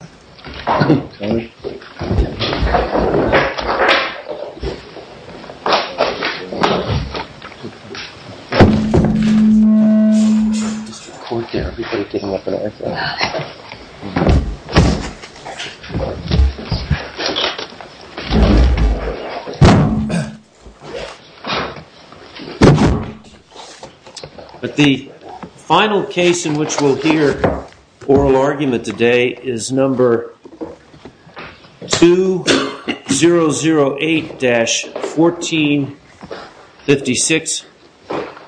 Mr. Corker, everybody take him up on that. Got it. But the final case in which we'll hear oral argument today is number 2008-1456,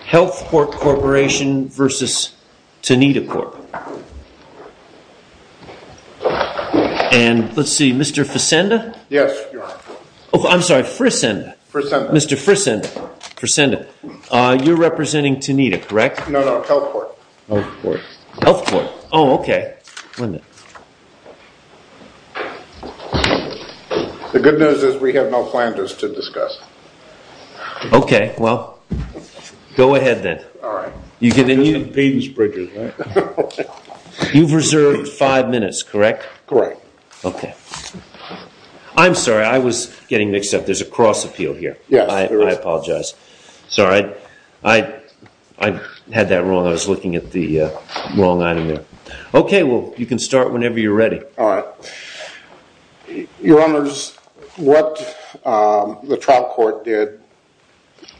Health Corp Corporation v. Tanita Corp. And let's see, Mr. Frisenda, you're representing Tanita, correct? No, Health Corp. Health Corp, oh, okay. The good news is we have no plan just to discuss. Okay, well, go ahead then. All right. You've reserved five minutes, correct? Correct. Okay. I'm sorry, I was getting mixed up. There's a cross-appeal here. Yes. I apologize. Sorry. I had that wrong. Okay, well, you can start whenever you're ready. All right. Your Honors, what the trial court did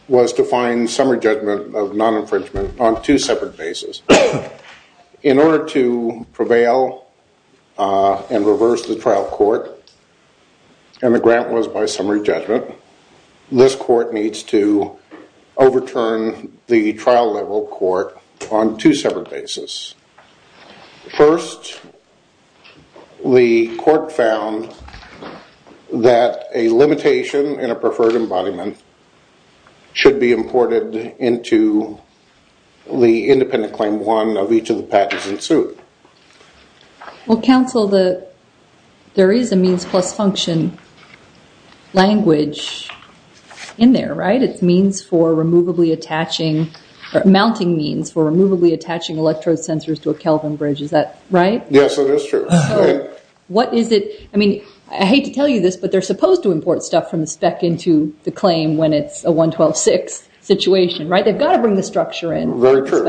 was to find summary judgment of non-infringement on two separate bases. In order to prevail and reverse the trial court, and the grant was by summary judgment, this court needs to overturn the trial level court on two separate bases. First, the court found that a limitation in a preferred embodiment should be imported into the independent claim one of each of the patents in suit. Well, counsel, there is a means plus function language in there, right? Mounting means for removably attaching electrode sensors to a Kelvin bridge. Is that right? Yes, it is true. What is it? I mean, I hate to tell you this, but they're supposed to import stuff from the spec into the claim when it's a 112.6 situation, right? They've got to bring the structure in. Very true.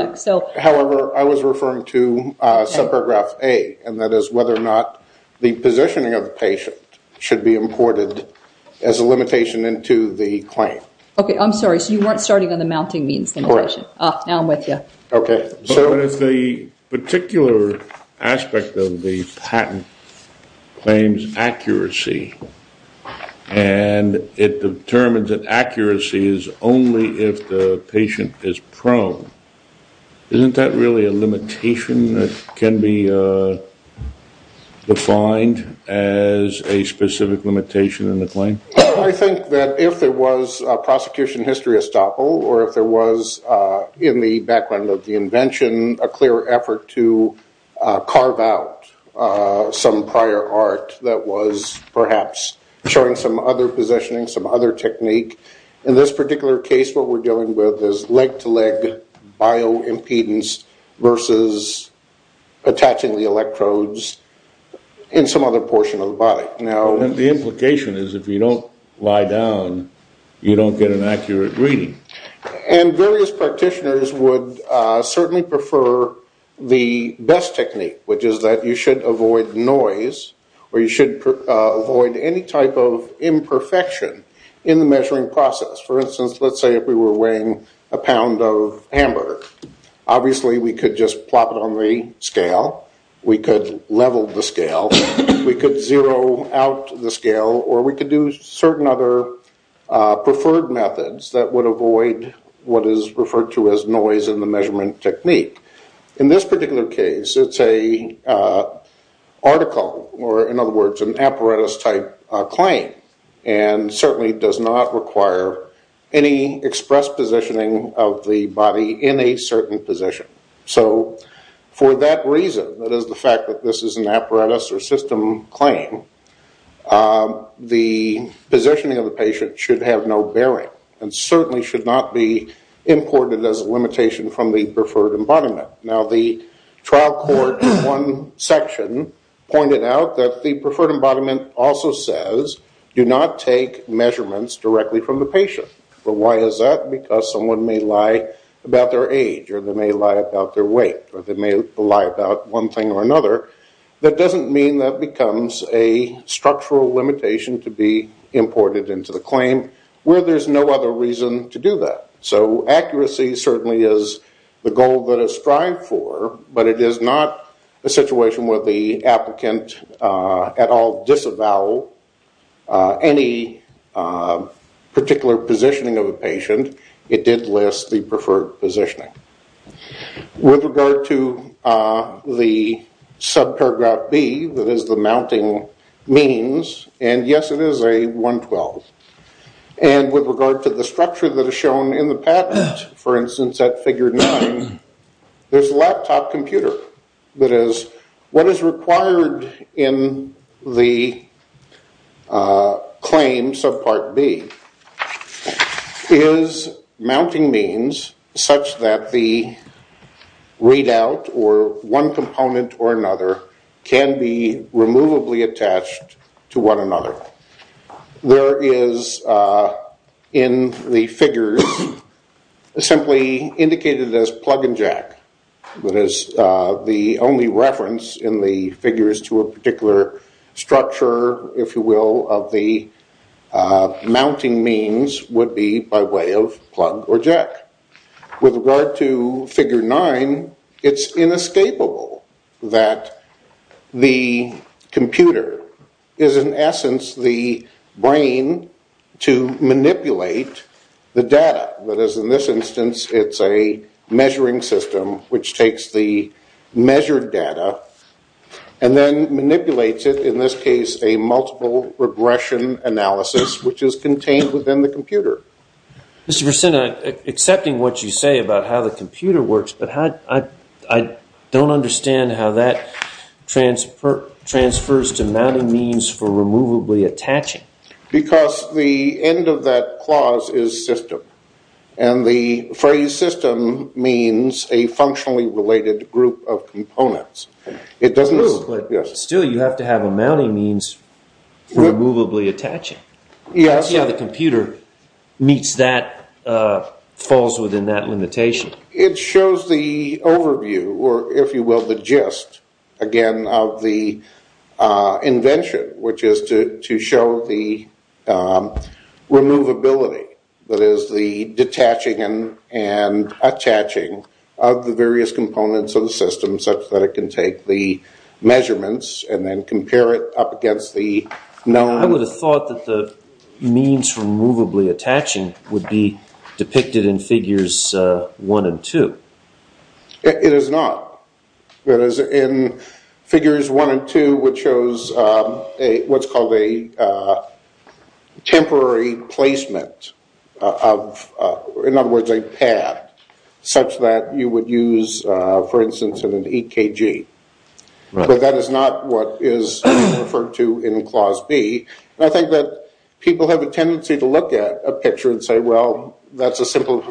However, I was referring to subparagraph A, and that is whether or not the positioning of the patient should be imported as a limitation into the claim. Okay, I'm sorry. So you weren't starting on the mounting means limitation. Now I'm with you. Okay. So if the particular aspect of the patent claims accuracy and it determines that accuracy is only if the patient is prone, isn't that really a limitation that can be defined as a specific limitation in the claim? I think that if there was a prosecution history estoppel or if there was, in the background of the invention, a clear effort to carve out some prior art that was perhaps showing some other positioning, some other technique. In this particular case, what we're dealing with is leg-to-leg bioimpedance versus attaching The implication is if you don't lie down, you don't get an accurate reading. And various practitioners would certainly prefer the best technique, which is that you should avoid noise or you should avoid any type of imperfection in the measuring process. For instance, let's say if we were weighing a pound of hamburger. Obviously, we could just plop it on the scale. We could level the scale. We could zero out the scale. Or we could do certain other preferred methods that would avoid what is referred to as noise in the measurement technique. In this particular case, it's an article or, in other words, an apparatus-type claim and certainly does not require any express positioning of the body in a certain position. For that reason, that is the fact that this is an apparatus or system claim, the positioning of the patient should have no bearing and certainly should not be imported as a limitation from the preferred embodiment. The trial court in one section pointed out that the preferred embodiment also says, do not take measurements directly from the patient. Why is that? Because someone may lie about their age or they may lie about their weight or they may lie about one thing or another. That doesn't mean that becomes a structural limitation to be imported into the claim where there's no other reason to do that. So accuracy certainly is the goal that is strived for, but it is not a situation where the applicant at all disavow any particular positioning of a patient. It did list the preferred positioning. With regard to the subparagraph B, that is the mounting means, and yes, it is a 112, and with regard to the structure that is shown in the patent, for instance, at figure 9, there's a laptop computer that is what is required in the claim subpart B is mounting means such that the readout or one component or another can be removably attached to one another. There is in the figures simply indicated as plug and jack. That is the only reference in the figures to a particular structure, if you will, of the mounting means would be by way of plug or jack. With regard to figure 9, it's inescapable that the computer is in essence the brain to manipulate the data. That is, in this instance, it's a measuring system which takes the measured data and then manipulates it, in this case, a multiple regression analysis, which is contained within the computer. Mr. Persenna, accepting what you say about how the computer works, but I don't understand how that transfers to mounting means for removably attaching. Because the end of that clause is system, and the phrase system means a functionally related group of components. It doesn't move, but still you have to have a mounting means for removably attaching. Yes. That's how the computer meets that, falls within that limitation. It shows the overview, or if you will, the gist, again, of the invention, which is to show the removability. That is, the detaching and attaching of the various components of the system such that it can take the measurements and then compare it up against the known... I would have thought that the means for removably attaching would be depicted in Figures 1 and 2. It is not. It is in Figures 1 and 2, which shows what's called a temporary placement of, in other words, a pad, such that you would use, for instance, an EKG. But that is not what is referred to in Clause B. I think that people have a tendency to look at a picture and say, well, that's a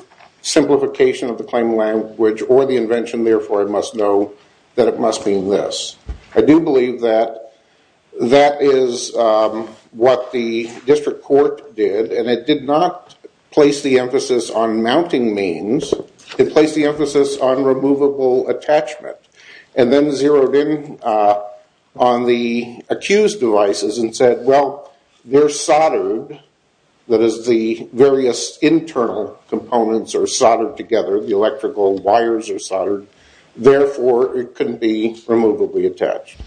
simplification of the claim language or the invention, therefore I must know that it must mean this. I do believe that that is what the district court did, and it did not place the emphasis on mounting means. It placed the emphasis on removable attachment. And then zeroed in on the accused devices and said, well, they're soldered, that is, the various internal components are soldered together, the electrical wires are soldered, therefore it couldn't be removably attached.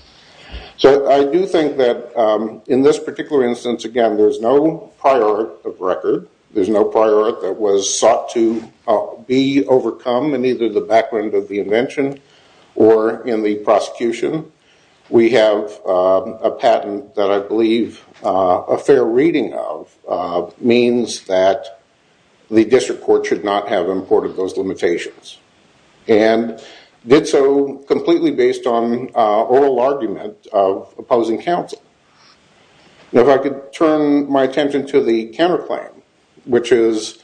So I do think that in this particular instance, again, there's no prior art of record. There's no prior art that was sought to be overcome in either the background of the invention or in the prosecution. We have a patent that I believe a fair reading of means that the district court should not have imported those limitations. And did so completely based on oral argument of opposing counsel. Now, if I could turn my attention to the counterclaim, which is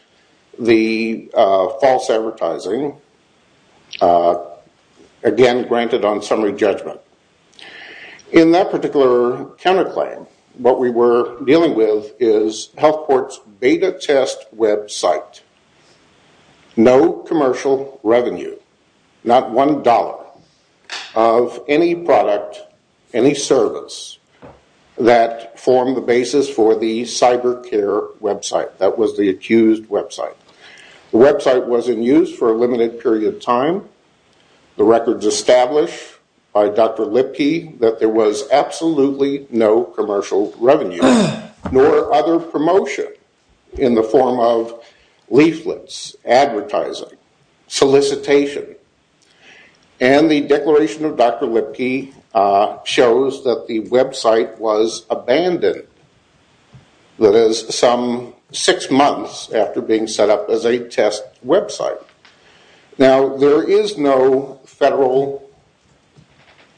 the false advertising, again, granted on summary judgment. In that particular counterclaim, what we were dealing with is health court's beta test website. No commercial revenue, not one dollar, of any product, any service, that formed the basis for the cyber care website. That was the accused website. The website was in use for a limited period of time. The records establish by Dr. Lipke that there was absolutely no commercial revenue, nor other promotion in the form of leaflets, advertising, solicitation. And the declaration of Dr. Lipke shows that the website was abandoned. That is, some six months after being set up as a test website. Now, there is no federal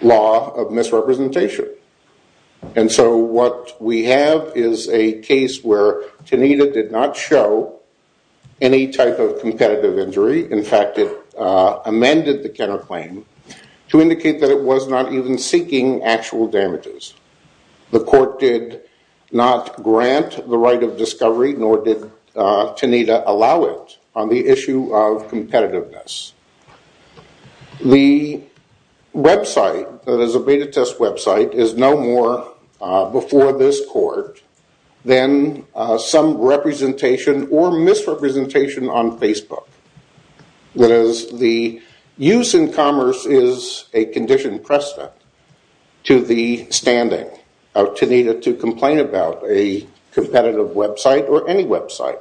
law of misrepresentation. And so what we have is a case where Tanita did not show any type of competitive injury. In fact, it amended the counterclaim to indicate that it was not even seeking actual damages. The court did not grant the right of discovery, nor did Tanita allow it, on the issue of competitiveness. The website, that is a beta test website, is no more before this court than some representation or misrepresentation on Facebook. That is, the use in commerce is a conditioned precedent to the standing of Tanita to complain about a competitive website or any website.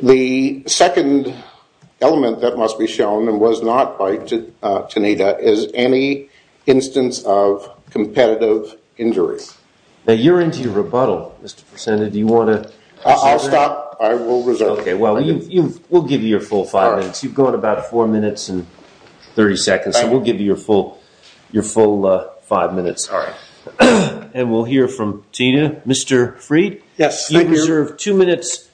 The second element that must be shown, and was not by Tanita, is any instance of competitive injury. Now, you're into your rebuttal, Mr. Persena. Do you want to... I'll stop. I will reserve. Okay, well, we'll give you your full five minutes. You've gone about four minutes and 30 seconds, so we'll give you your full five minutes. All right. And we'll hear from Tina. Mr. Freed? Yes, I'm here. You reserve two minutes,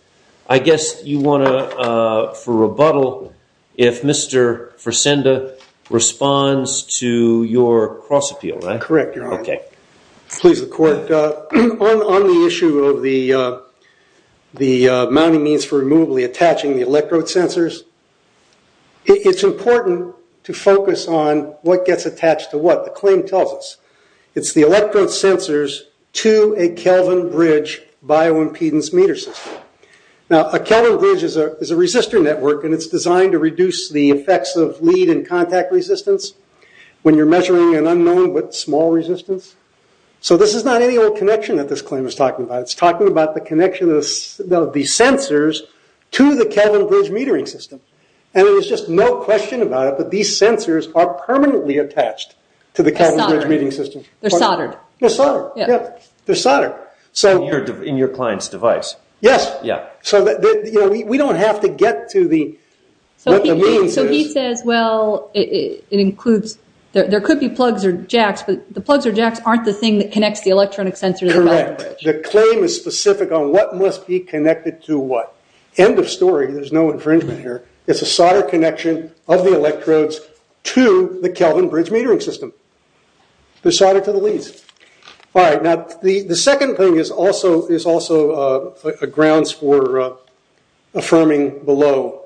I guess, for rebuttal if Mr. Persena responds to your cross-appeal, right? Correct, Your Honor. Okay. Please, the court. On the issue of the mounting means for removably attaching the electrode sensors, it's important to focus on what gets attached to what the claim tells us. It's the electrode sensors to a Kelvin bridge bioimpedance meter system. Now, a Kelvin bridge is a resistor network, and it's designed to reduce the effects of lead and contact resistance when you're measuring an unknown with small resistance. So this is not any old connection that this claim is talking about. It's talking about the connection of the sensors to the Kelvin bridge metering system. And there's just no question about it, but these sensors are permanently attached to the Kelvin bridge metering system. They're soldered. They're soldered. Yeah. They're soldered. In your client's device. Yes. Yeah. So we don't have to get to what the means is. So he says, well, it includes – there could be plugs or jacks, but the plugs or jacks aren't the thing that connects the electronic sensor to the Kelvin bridge. Correct. The claim is specific on what must be connected to what. End of story. There's no infringement here. It's a solder connection of the electrodes to the Kelvin bridge metering system. They're soldered to the leads. All right. Now, the second thing is also a grounds for affirming below.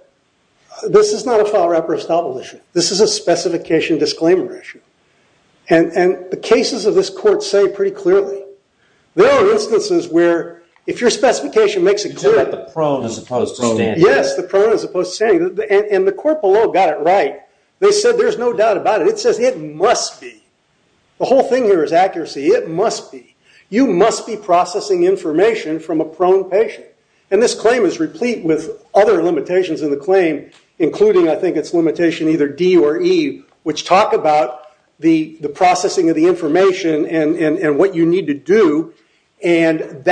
This is not a file wrapper estoppel issue. This is a specification disclaimer issue. And the cases of this court say pretty clearly. There are instances where if your specification makes it clear. It's about the prone as opposed to standing. Yes, the prone as opposed to standing. And the court below got it right. They said there's no doubt about it. It says it must be. The whole thing here is accuracy. It must be. You must be processing information from a prone patient. And this claim is replete with other limitations in the claim, including I think it's limitation either D or E, which talk about the processing of the information and what you need to do. And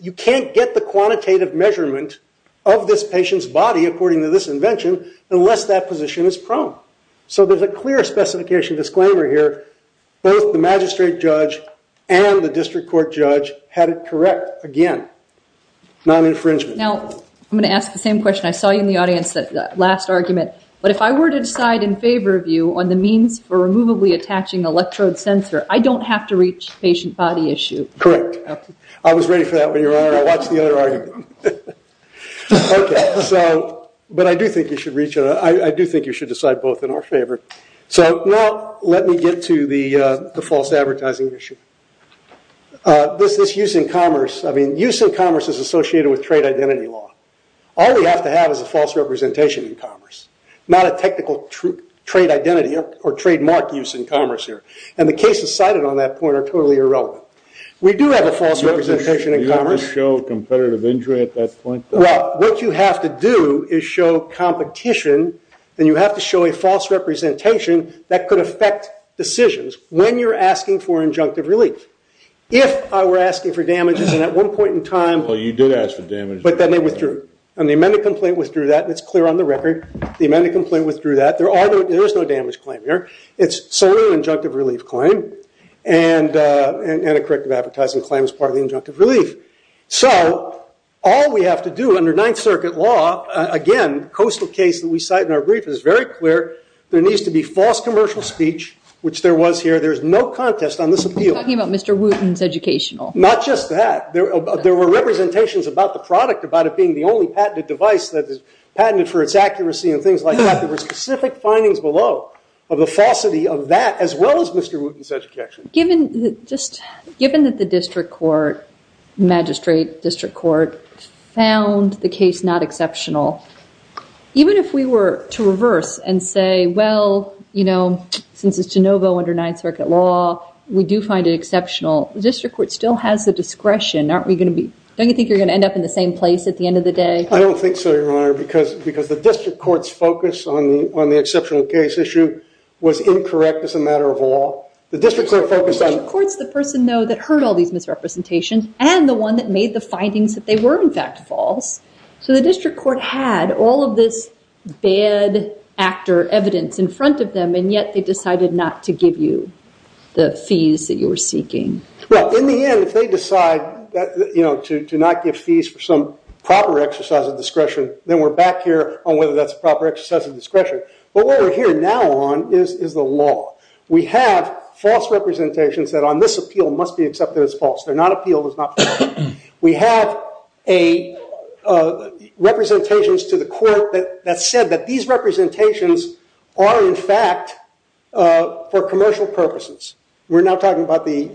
you can't get the quantitative measurement of this patient's body, according to this invention, unless that position is prone. So there's a clear specification disclaimer here. Both the magistrate judge and the district court judge had it correct. Again, non-infringement. Now, I'm going to ask the same question. I saw you in the audience, that last argument. But if I were to decide in favor of you on the means for removably attaching electrode sensor, I don't have to reach patient body issue. Correct. I was ready for that when you were on. I watched the other argument. Okay. But I do think you should reach it. I do think you should decide both in our favor. So now let me get to the false advertising issue. This use in commerce. I mean, use in commerce is associated with trade identity law. All we have to have is a false representation in commerce, not a technical trade identity or trademark use in commerce here. And the cases cited on that point are totally irrelevant. We do have a false representation in commerce. You have to show competitive injury at that point? Well, what you have to do is show competition. Then you have to show a false representation that could affect decisions when you're asking for injunctive relief. If I were asking for damages and at one point in time. Well, you did ask for damages. But then they withdrew. And the amended complaint withdrew that. It's clear on the record. The amended complaint withdrew that. There is no damage claim here. It's solely an injunctive relief claim. And a corrective advertising claim is part of the injunctive relief. So all we have to do under Ninth Circuit law, again, coastal case that we cite in our brief is very clear. There needs to be false commercial speech, which there was here. There's no contest on this appeal. You're talking about Mr. Wooten's educational. Not just that. There were representations about the product, about it being the only patented device that is patented for its accuracy and things like that. There were specific findings below of the falsity of that, as well as Mr. Wooten's education. Given that the district court, magistrate district court, found the case not exceptional, even if we were to reverse and say, well, you know, since it's de novo under Ninth Circuit law, we do find it exceptional. The district court still has the discretion. Don't you think you're going to end up in the same place at the end of the day? I don't think so, Your Honor, because the district court's focus on the exceptional case issue was incorrect as a matter of law. The district court focused on- The district court's the person, though, that heard all these misrepresentations and the one that made the findings that they were, in fact, false. So the district court had all of this bad actor evidence in front of them, and yet they decided not to give you the fees that you were seeking. Well, in the end, if they decide to not give fees for some proper exercise of discretion, then we're back here on whether that's a proper exercise of discretion. But what we're here now on is the law. We have false representations that, on this appeal, must be accepted as false. They're not appealed as not false. We have representations to the court that said that these representations are, in fact, for commercial purposes. We're now talking about the-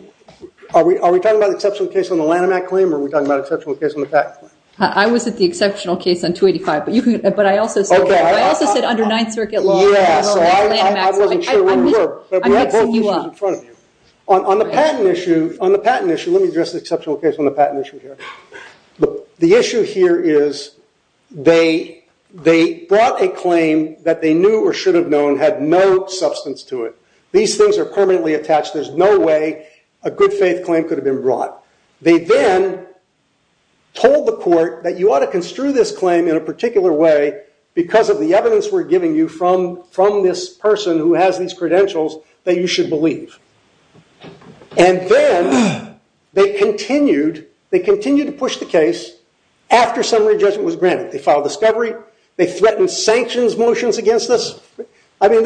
Are we talking about the exceptional case on the Lanham Act claim, or are we talking about the exceptional case on the patent claim? I was at the exceptional case on 285, but I also said- Okay. I also said under Ninth Circuit law- Yeah, so I wasn't sure where you were. I'm mixing you up. But we have both issues in front of you. On the patent issue, let me address the exceptional case on the patent issue here. The issue here is they brought a claim that they knew or should have known had no substance to it. These things are permanently attached. There's no way a good faith claim could have been brought. They then told the court that you ought to construe this claim in a particular way because of the evidence we're giving you from this person who has these credentials that you should believe. Then they continued to push the case after summary judgment was granted. They filed discovery. They threatened sanctions motions against us. I mean,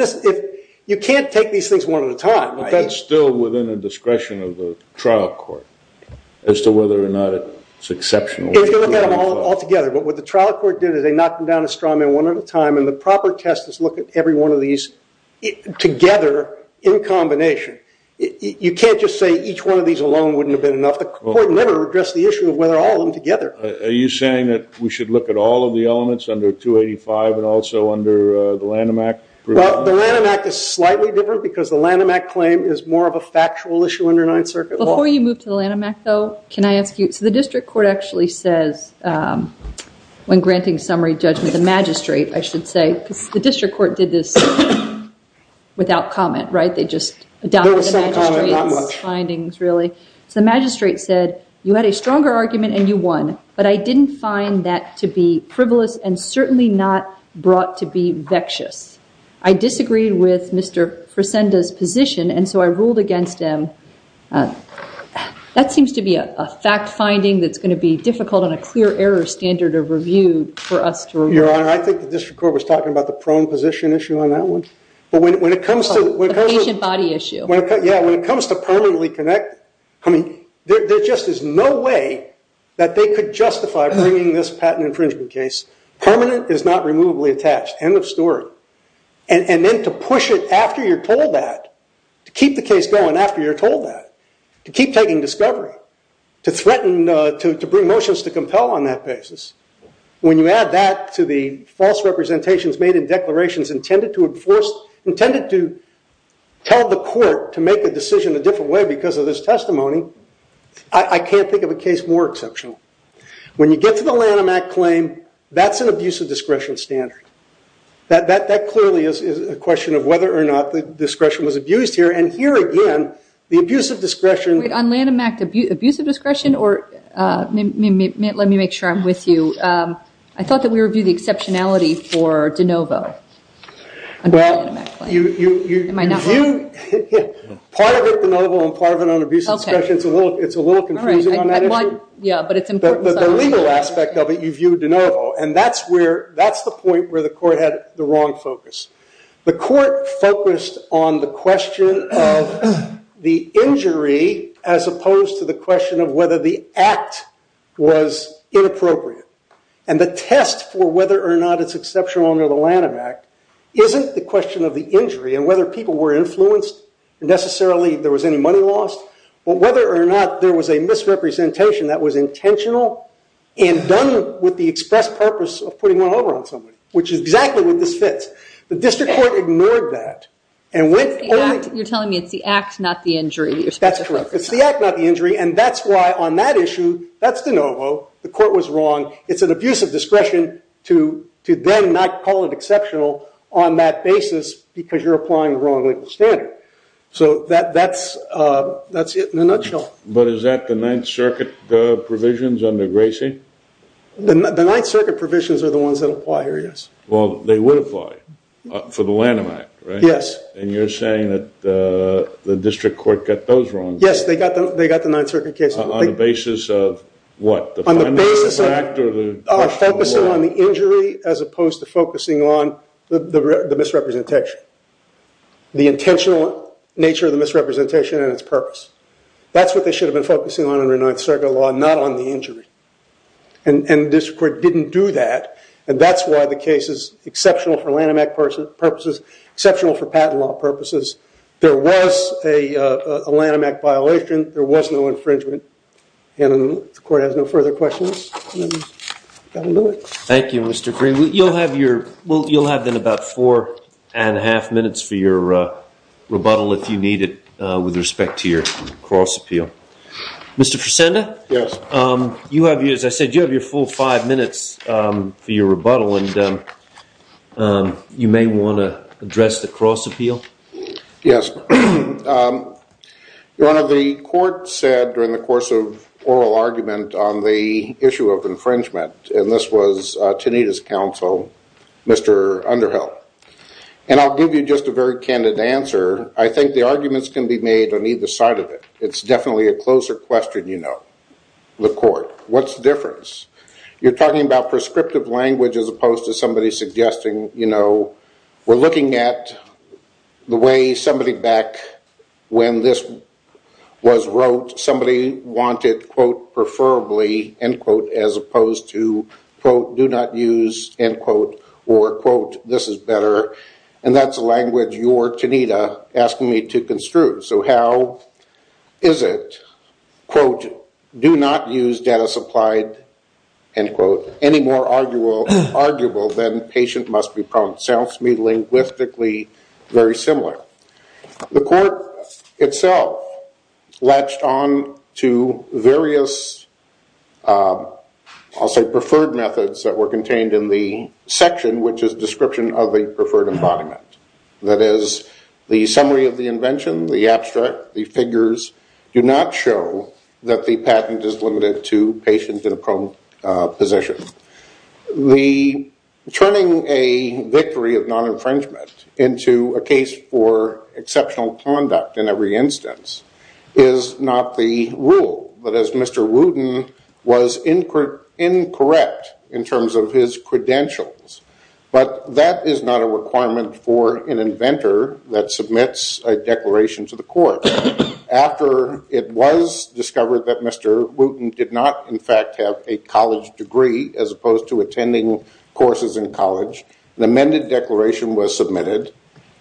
you can't take these things one at a time. But that's still within the discretion of the trial court as to whether or not it's exceptional. If you look at them all together, what the trial court did is they knocked them down a straw man one at a time, and the proper test is look at every one of these together in combination. You can't just say each one of these alone wouldn't have been enough. The court never addressed the issue of whether all of them together. Are you saying that we should look at all of the elements under 285 and also under the Lanham Act? Well, the Lanham Act is slightly different because the Lanham Act claim is more of a factual issue under Ninth Circuit law. Before you move to the Lanham Act, though, can I ask you, so the district court actually says when granting summary judgment, the magistrate, I should say, because the district court did this without comment, right? They just adopted the magistrate's findings, really. So the magistrate said, you had a stronger argument and you won, but I didn't find that to be frivolous and certainly not brought to be vexed. I disagreed with Mr. Fresenda's position, and so I ruled against him. That seems to be a fact finding that's going to be difficult and a clear error standard of review for us to review. Your Honor, I think the district court was talking about the prone position issue on that one. The patient body issue. Yeah, when it comes to permanently connected, there just is no way that they could justify bringing this patent infringement case. Permanent is not removably attached. End of story. And then to push it after you're told that, to keep the case going after you're told that, to keep taking discovery, to threaten, to bring motions to compel on that basis, when you add that to the false representations made in declarations intended to enforce, intended to tell the court to make a decision a different way because of this testimony, I can't think of a case more exceptional. When you get to the Lanham Act claim, that's an abuse of discretion standard. That clearly is a question of whether or not the discretion was abused here, and here again, the abuse of discretion. Wait, on Lanham Act, abuse of discretion? Let me make sure I'm with you. I thought that we reviewed the exceptionality for de novo under the Lanham Act claim. Am I not wrong? Part of it de novo and part of it on abuse of discretion. It's a little confusing on that issue. Yeah, but it's important. The legal aspect of it, you view de novo, and that's the point where the court had the wrong focus. The court focused on the question of the injury as opposed to the question of whether the act was inappropriate. And the test for whether or not it's exceptional under the Lanham Act isn't the question of the injury and whether people were influenced, necessarily there was any money lost, but whether or not there was a misrepresentation that was intentional and done with the express purpose of putting one over on somebody, which is exactly what this fits. The district court ignored that. You're telling me it's the act, not the injury. That's correct. It's the act, not the injury, and that's why on that issue, that's de novo. The court was wrong. It's an abuse of discretion to then not call it exceptional on that basis because you're applying the wrong legal standard. So that's it in a nutshell. But is that the Ninth Circuit provisions under Gracie? The Ninth Circuit provisions are the ones that apply here, yes. Well, they would apply for the Lanham Act, right? Yes. And you're saying that the district court got those wrong? Yes, they got the Ninth Circuit case wrong. On the basis of what? On the basis of focusing on the injury as opposed to focusing on the misrepresentation, the intentional nature of the misrepresentation and its purpose. That's what they should have been focusing on under Ninth Circuit law, not on the injury. And the district court didn't do that, and that's why the case is exceptional for Lanham Act purposes, exceptional for patent law purposes. There was a Lanham Act violation. There was no infringement. And the court has no further questions. Thank you, Mr. Green. You'll have then about four and a half minutes for your rebuttal if you need it with respect to your cross appeal. Mr. Fresenda? Yes. You have, as I said, you have your full five minutes for your rebuttal, and you may want to address the cross appeal. Yes. Your Honor, the court said during the course of oral argument on the issue of infringement, and this was Teneda's counsel, Mr. Underhill. And I'll give you just a very candid answer. I think the arguments can be made on either side of it. It's definitely a closer question, you know, the court. What's the difference? You're talking about prescriptive language as opposed to somebody suggesting, you know, we're looking at the way somebody back when this was wrote, somebody wanted, quote, preferably, end quote, as opposed to, quote, do not use, end quote, or, quote, this is better. And that's a language you're, Teneda, asking me to construe. So how is it, quote, do not use data supplied, end quote, any more arguable than patient must be prompt. Sounds to me linguistically very similar. The court itself latched on to various, I'll say, preferred methods that were contained in the section, which is description of the preferred embodiment. That is, the summary of the invention, the abstract, the figures, do not show that the patent is limited to patient in a prone position. The turning a victory of non-infringement into a case for exceptional conduct in every instance is not the rule, but as Mr. Wooten was incorrect in terms of his credentials. But that is not a requirement for an inventor that submits a declaration to the court. After it was discovered that Mr. Wooten did not, in fact, have a college degree as opposed to attending courses in college, an amended declaration was submitted,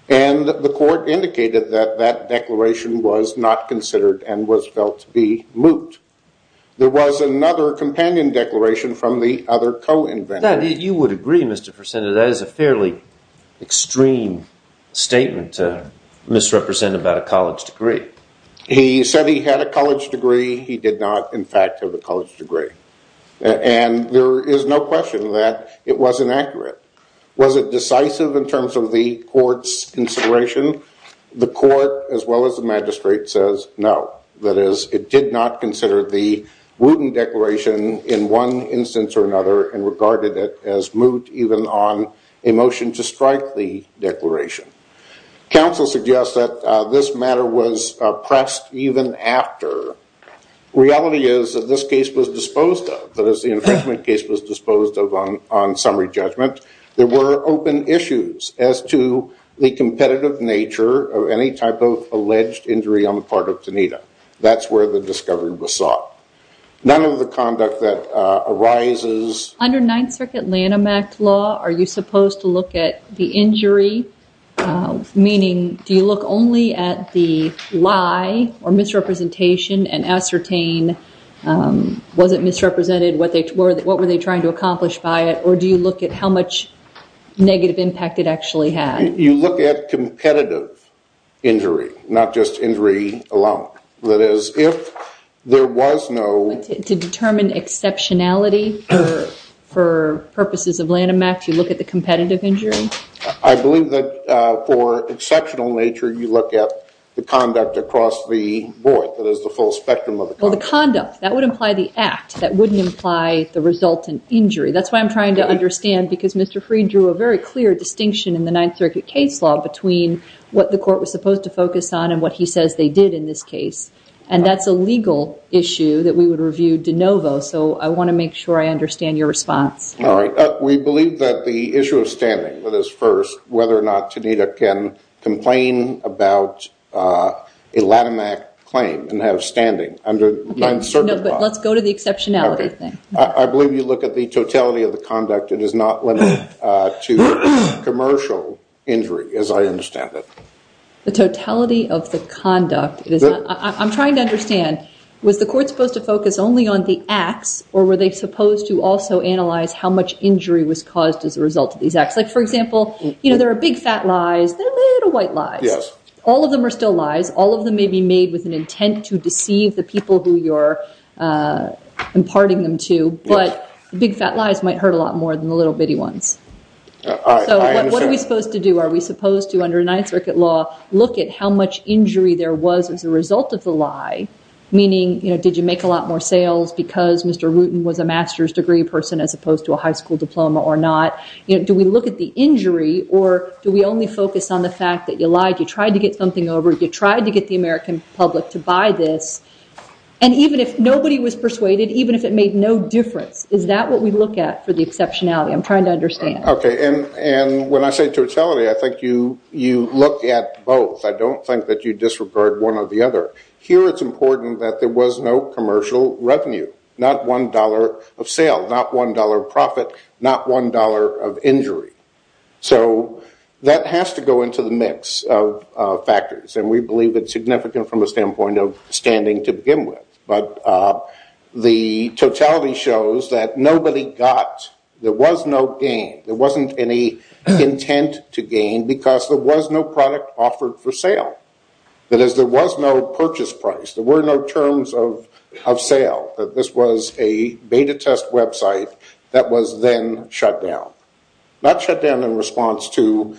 and the court indicated that that declaration was not considered and was felt to be moot. There was another companion declaration from the other co-inventor. You would agree, Mr. Persenna, that is a fairly extreme statement to misrepresent about a college degree. He said he had a college degree. He did not, in fact, have a college degree. And there is no question that it was inaccurate. Was it decisive in terms of the court's consideration? The court, as well as the magistrate, says no. That is, it did not consider the Wooten declaration in one instance or another and regarded it as moot even on a motion to strike the declaration. Counsel suggests that this matter was pressed even after. Reality is that this case was disposed of. That is, the infringement case was disposed of on summary judgment. There were open issues as to the competitive nature of any type of alleged injury on the part of Tanita. That's where the discovery was sought. None of the conduct that arises. Under Ninth Circuit Lanham Act law, are you supposed to look at the injury, meaning do you look only at the lie or misrepresentation and ascertain was it misrepresented, what were they trying to accomplish by it, or do you look at how much negative impact it actually had? You look at competitive injury, not just injury alone. That is, if there was no... To determine exceptionality for purposes of Lanham Act, you look at the competitive injury? I believe that for exceptional nature, you look at the conduct across the board, that is, the full spectrum of the conduct. Well, the conduct, that would imply the act. That wouldn't imply the resultant injury. That's why I'm trying to understand, because Mr. Freed drew a very clear distinction in the Ninth Circuit case law between what the court was supposed to focus on and what he says they did in this case. And that's a legal issue that we would review de novo, so I want to make sure I understand your response. All right. We believe that the issue of standing was first, whether or not Tanita can complain about a Lanham Act claim and have standing under Ninth Circuit law. No, but let's go to the exceptionality thing. I believe you look at the totality of the conduct. It is not limited to commercial injury, as I understand it. The totality of the conduct? I'm trying to understand, was the court supposed to focus only on the acts, or were they supposed to also analyze how much injury was caused as a result of these acts? Like, for example, you know, there are big, fat lies. There are little, white lies. Yes. All of them are still lies. All of them may be made with an intent to deceive the people who you're imparting them to, but big, fat lies might hurt a lot more than the little, bitty ones. I understand. So what are we supposed to do? Are we supposed to, under Ninth Circuit law, look at how much injury there was as a result of the lie, meaning, you know, did you make a lot more sales because Mr. Wooten was a master's degree person as opposed to a high school diploma or not? You know, do we look at the injury, or do we only focus on the fact that you lied, you tried to get something over, you tried to get the American public to buy this, and even if nobody was persuaded, even if it made no difference, is that what we look at for the exceptionality? I'm trying to understand. Okay. And when I say totality, I think you look at both. I don't think that you disregard one or the other. Here it's important that there was no commercial revenue, not $1 of sale, not $1 of profit, not $1 of injury. So that has to go into the mix of factors, and we believe it's significant from a standpoint of standing to begin with. But the totality shows that nobody got, there was no gain, there wasn't any intent to gain because there was no product offered for sale. That is, there was no purchase price, there were no terms of sale, that this was a beta test website that was then shut down. Not shut down in response to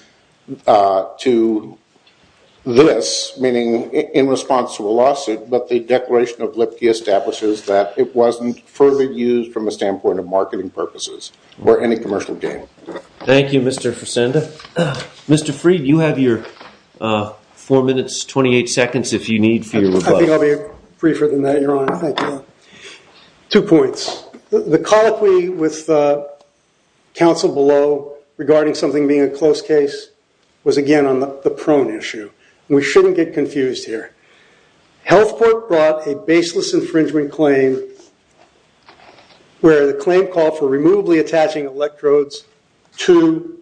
this, meaning in response to a lawsuit, but the declaration of Lipke establishes that it wasn't further used from a standpoint of marketing purposes or any commercial gain. Thank you, Mr. Fresenda. Mr. Fried, you have your 4 minutes, 28 seconds if you need for your rebuttal. I think I'll be briefer than that, Your Honor. Thank you. Two points. The colloquy with the counsel below regarding something being a close case was, again, on the prone issue. We shouldn't get confused here. Health Court brought a baseless infringement claim where the claim called for removably attaching electrodes to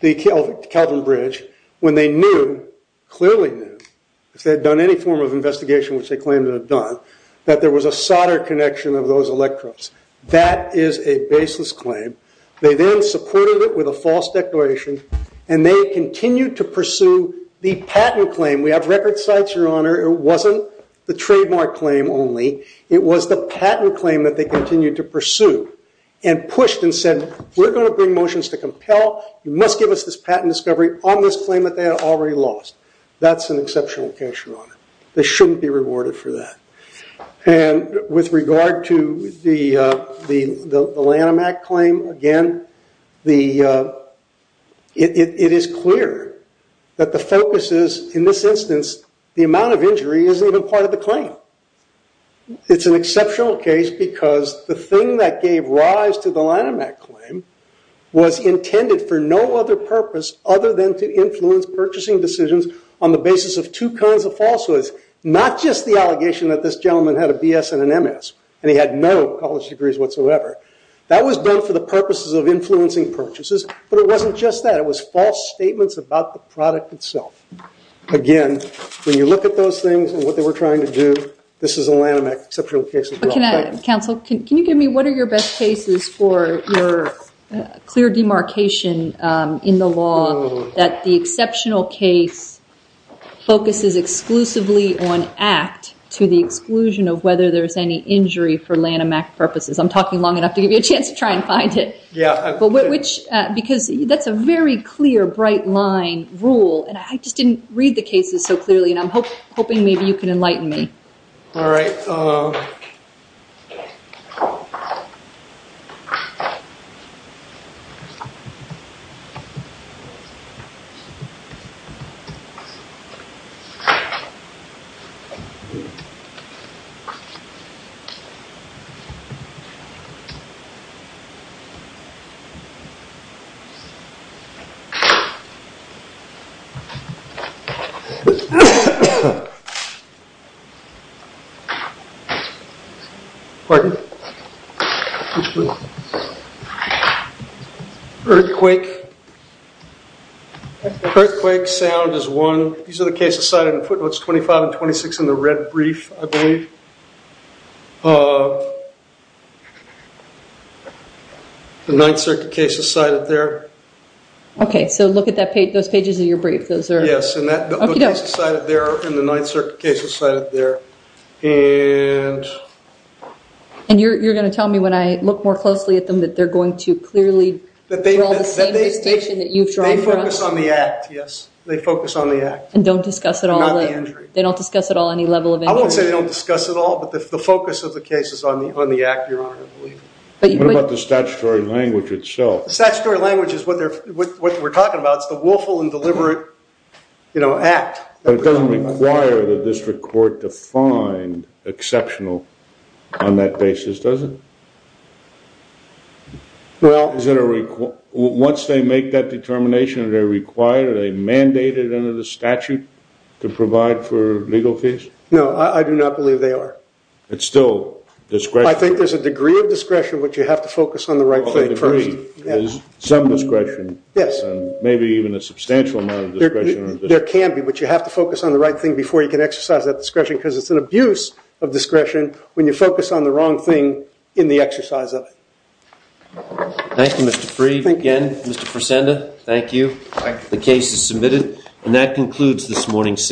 the Kelvin Bridge when they knew, clearly knew, if they had done any form of investigation which they claimed to have done, that there was a solder connection of those electrodes. That is a baseless claim. They then supported it with a false declaration, and they continued to pursue the patent claim. We have record sites, Your Honor. It wasn't the trademark claim only. It was the patent claim that they continued to pursue and pushed and said, we're going to bring motions to compel. You must give us this patent discovery on this claim that they had already lost. That's an exceptional case, Your Honor. They shouldn't be rewarded for that. And with regard to the Lanham Act claim, again, it is clear that the focus is, in this instance, the amount of injury isn't even part of the claim. It's an exceptional case because the thing that gave rise to the Lanham Act claim was intended for no other purpose other than to influence purchasing decisions on the basis of two kinds of falsehoods, not just the allegation that this gentleman had a BS and an MS and he had no college degrees whatsoever. That was done for the purposes of influencing purchases, but it wasn't just that. It was false statements about the product itself. Again, when you look at those things and what they were trying to do, this is a Lanham Act exceptional case, Your Honor. Counsel, can you give me, what are your best cases for your clear demarcation in the law that the exceptional case focuses exclusively on act to the exclusion of whether there's any injury for Lanham Act purposes? I'm talking long enough to give you a chance to try and find it. Yeah. Because that's a very clear, bright line rule, and I just didn't read the cases so clearly, and I'm hoping maybe you can enlighten me. All right. All right. Earthquake. Earthquake sound is one. These are the cases cited in footnotes 25 and 26 in the red brief, I believe. The Ninth Circuit case is cited there. Okay, so look at those pages of your brief. Yes, and that book is cited there, and the Ninth Circuit case is cited there. And you're going to tell me when I look more closely at them that they're going to clearly draw the same distinction that you've drawn for us? They focus on the act, yes. They focus on the act. And don't discuss at all? And not the injury. They don't discuss at all any level of injury? I won't say they don't discuss at all, but the focus of the case is on the act, Your Honor, I believe. What about the statutory language itself? The statutory language is what we're talking about. It's the willful and deliberate act. But it doesn't require the district court to find exceptional on that basis, does it? Once they make that determination, are they required, are they mandated under the statute to provide for legal fees? No, I do not believe they are. It's still discretion? I think there's a degree of discretion, but you have to focus on the right thing first. A degree? Some discretion? Yes. Maybe even a substantial amount of discretion? There can be, but you have to focus on the right thing before you can exercise that discretion because it's an abuse of discretion when you focus on the wrong thing in the exercise of it. Thank you, Mr. Freed. Again, Mr. Fresenda, thank you. The case is submitted. And that concludes this morning's sitting.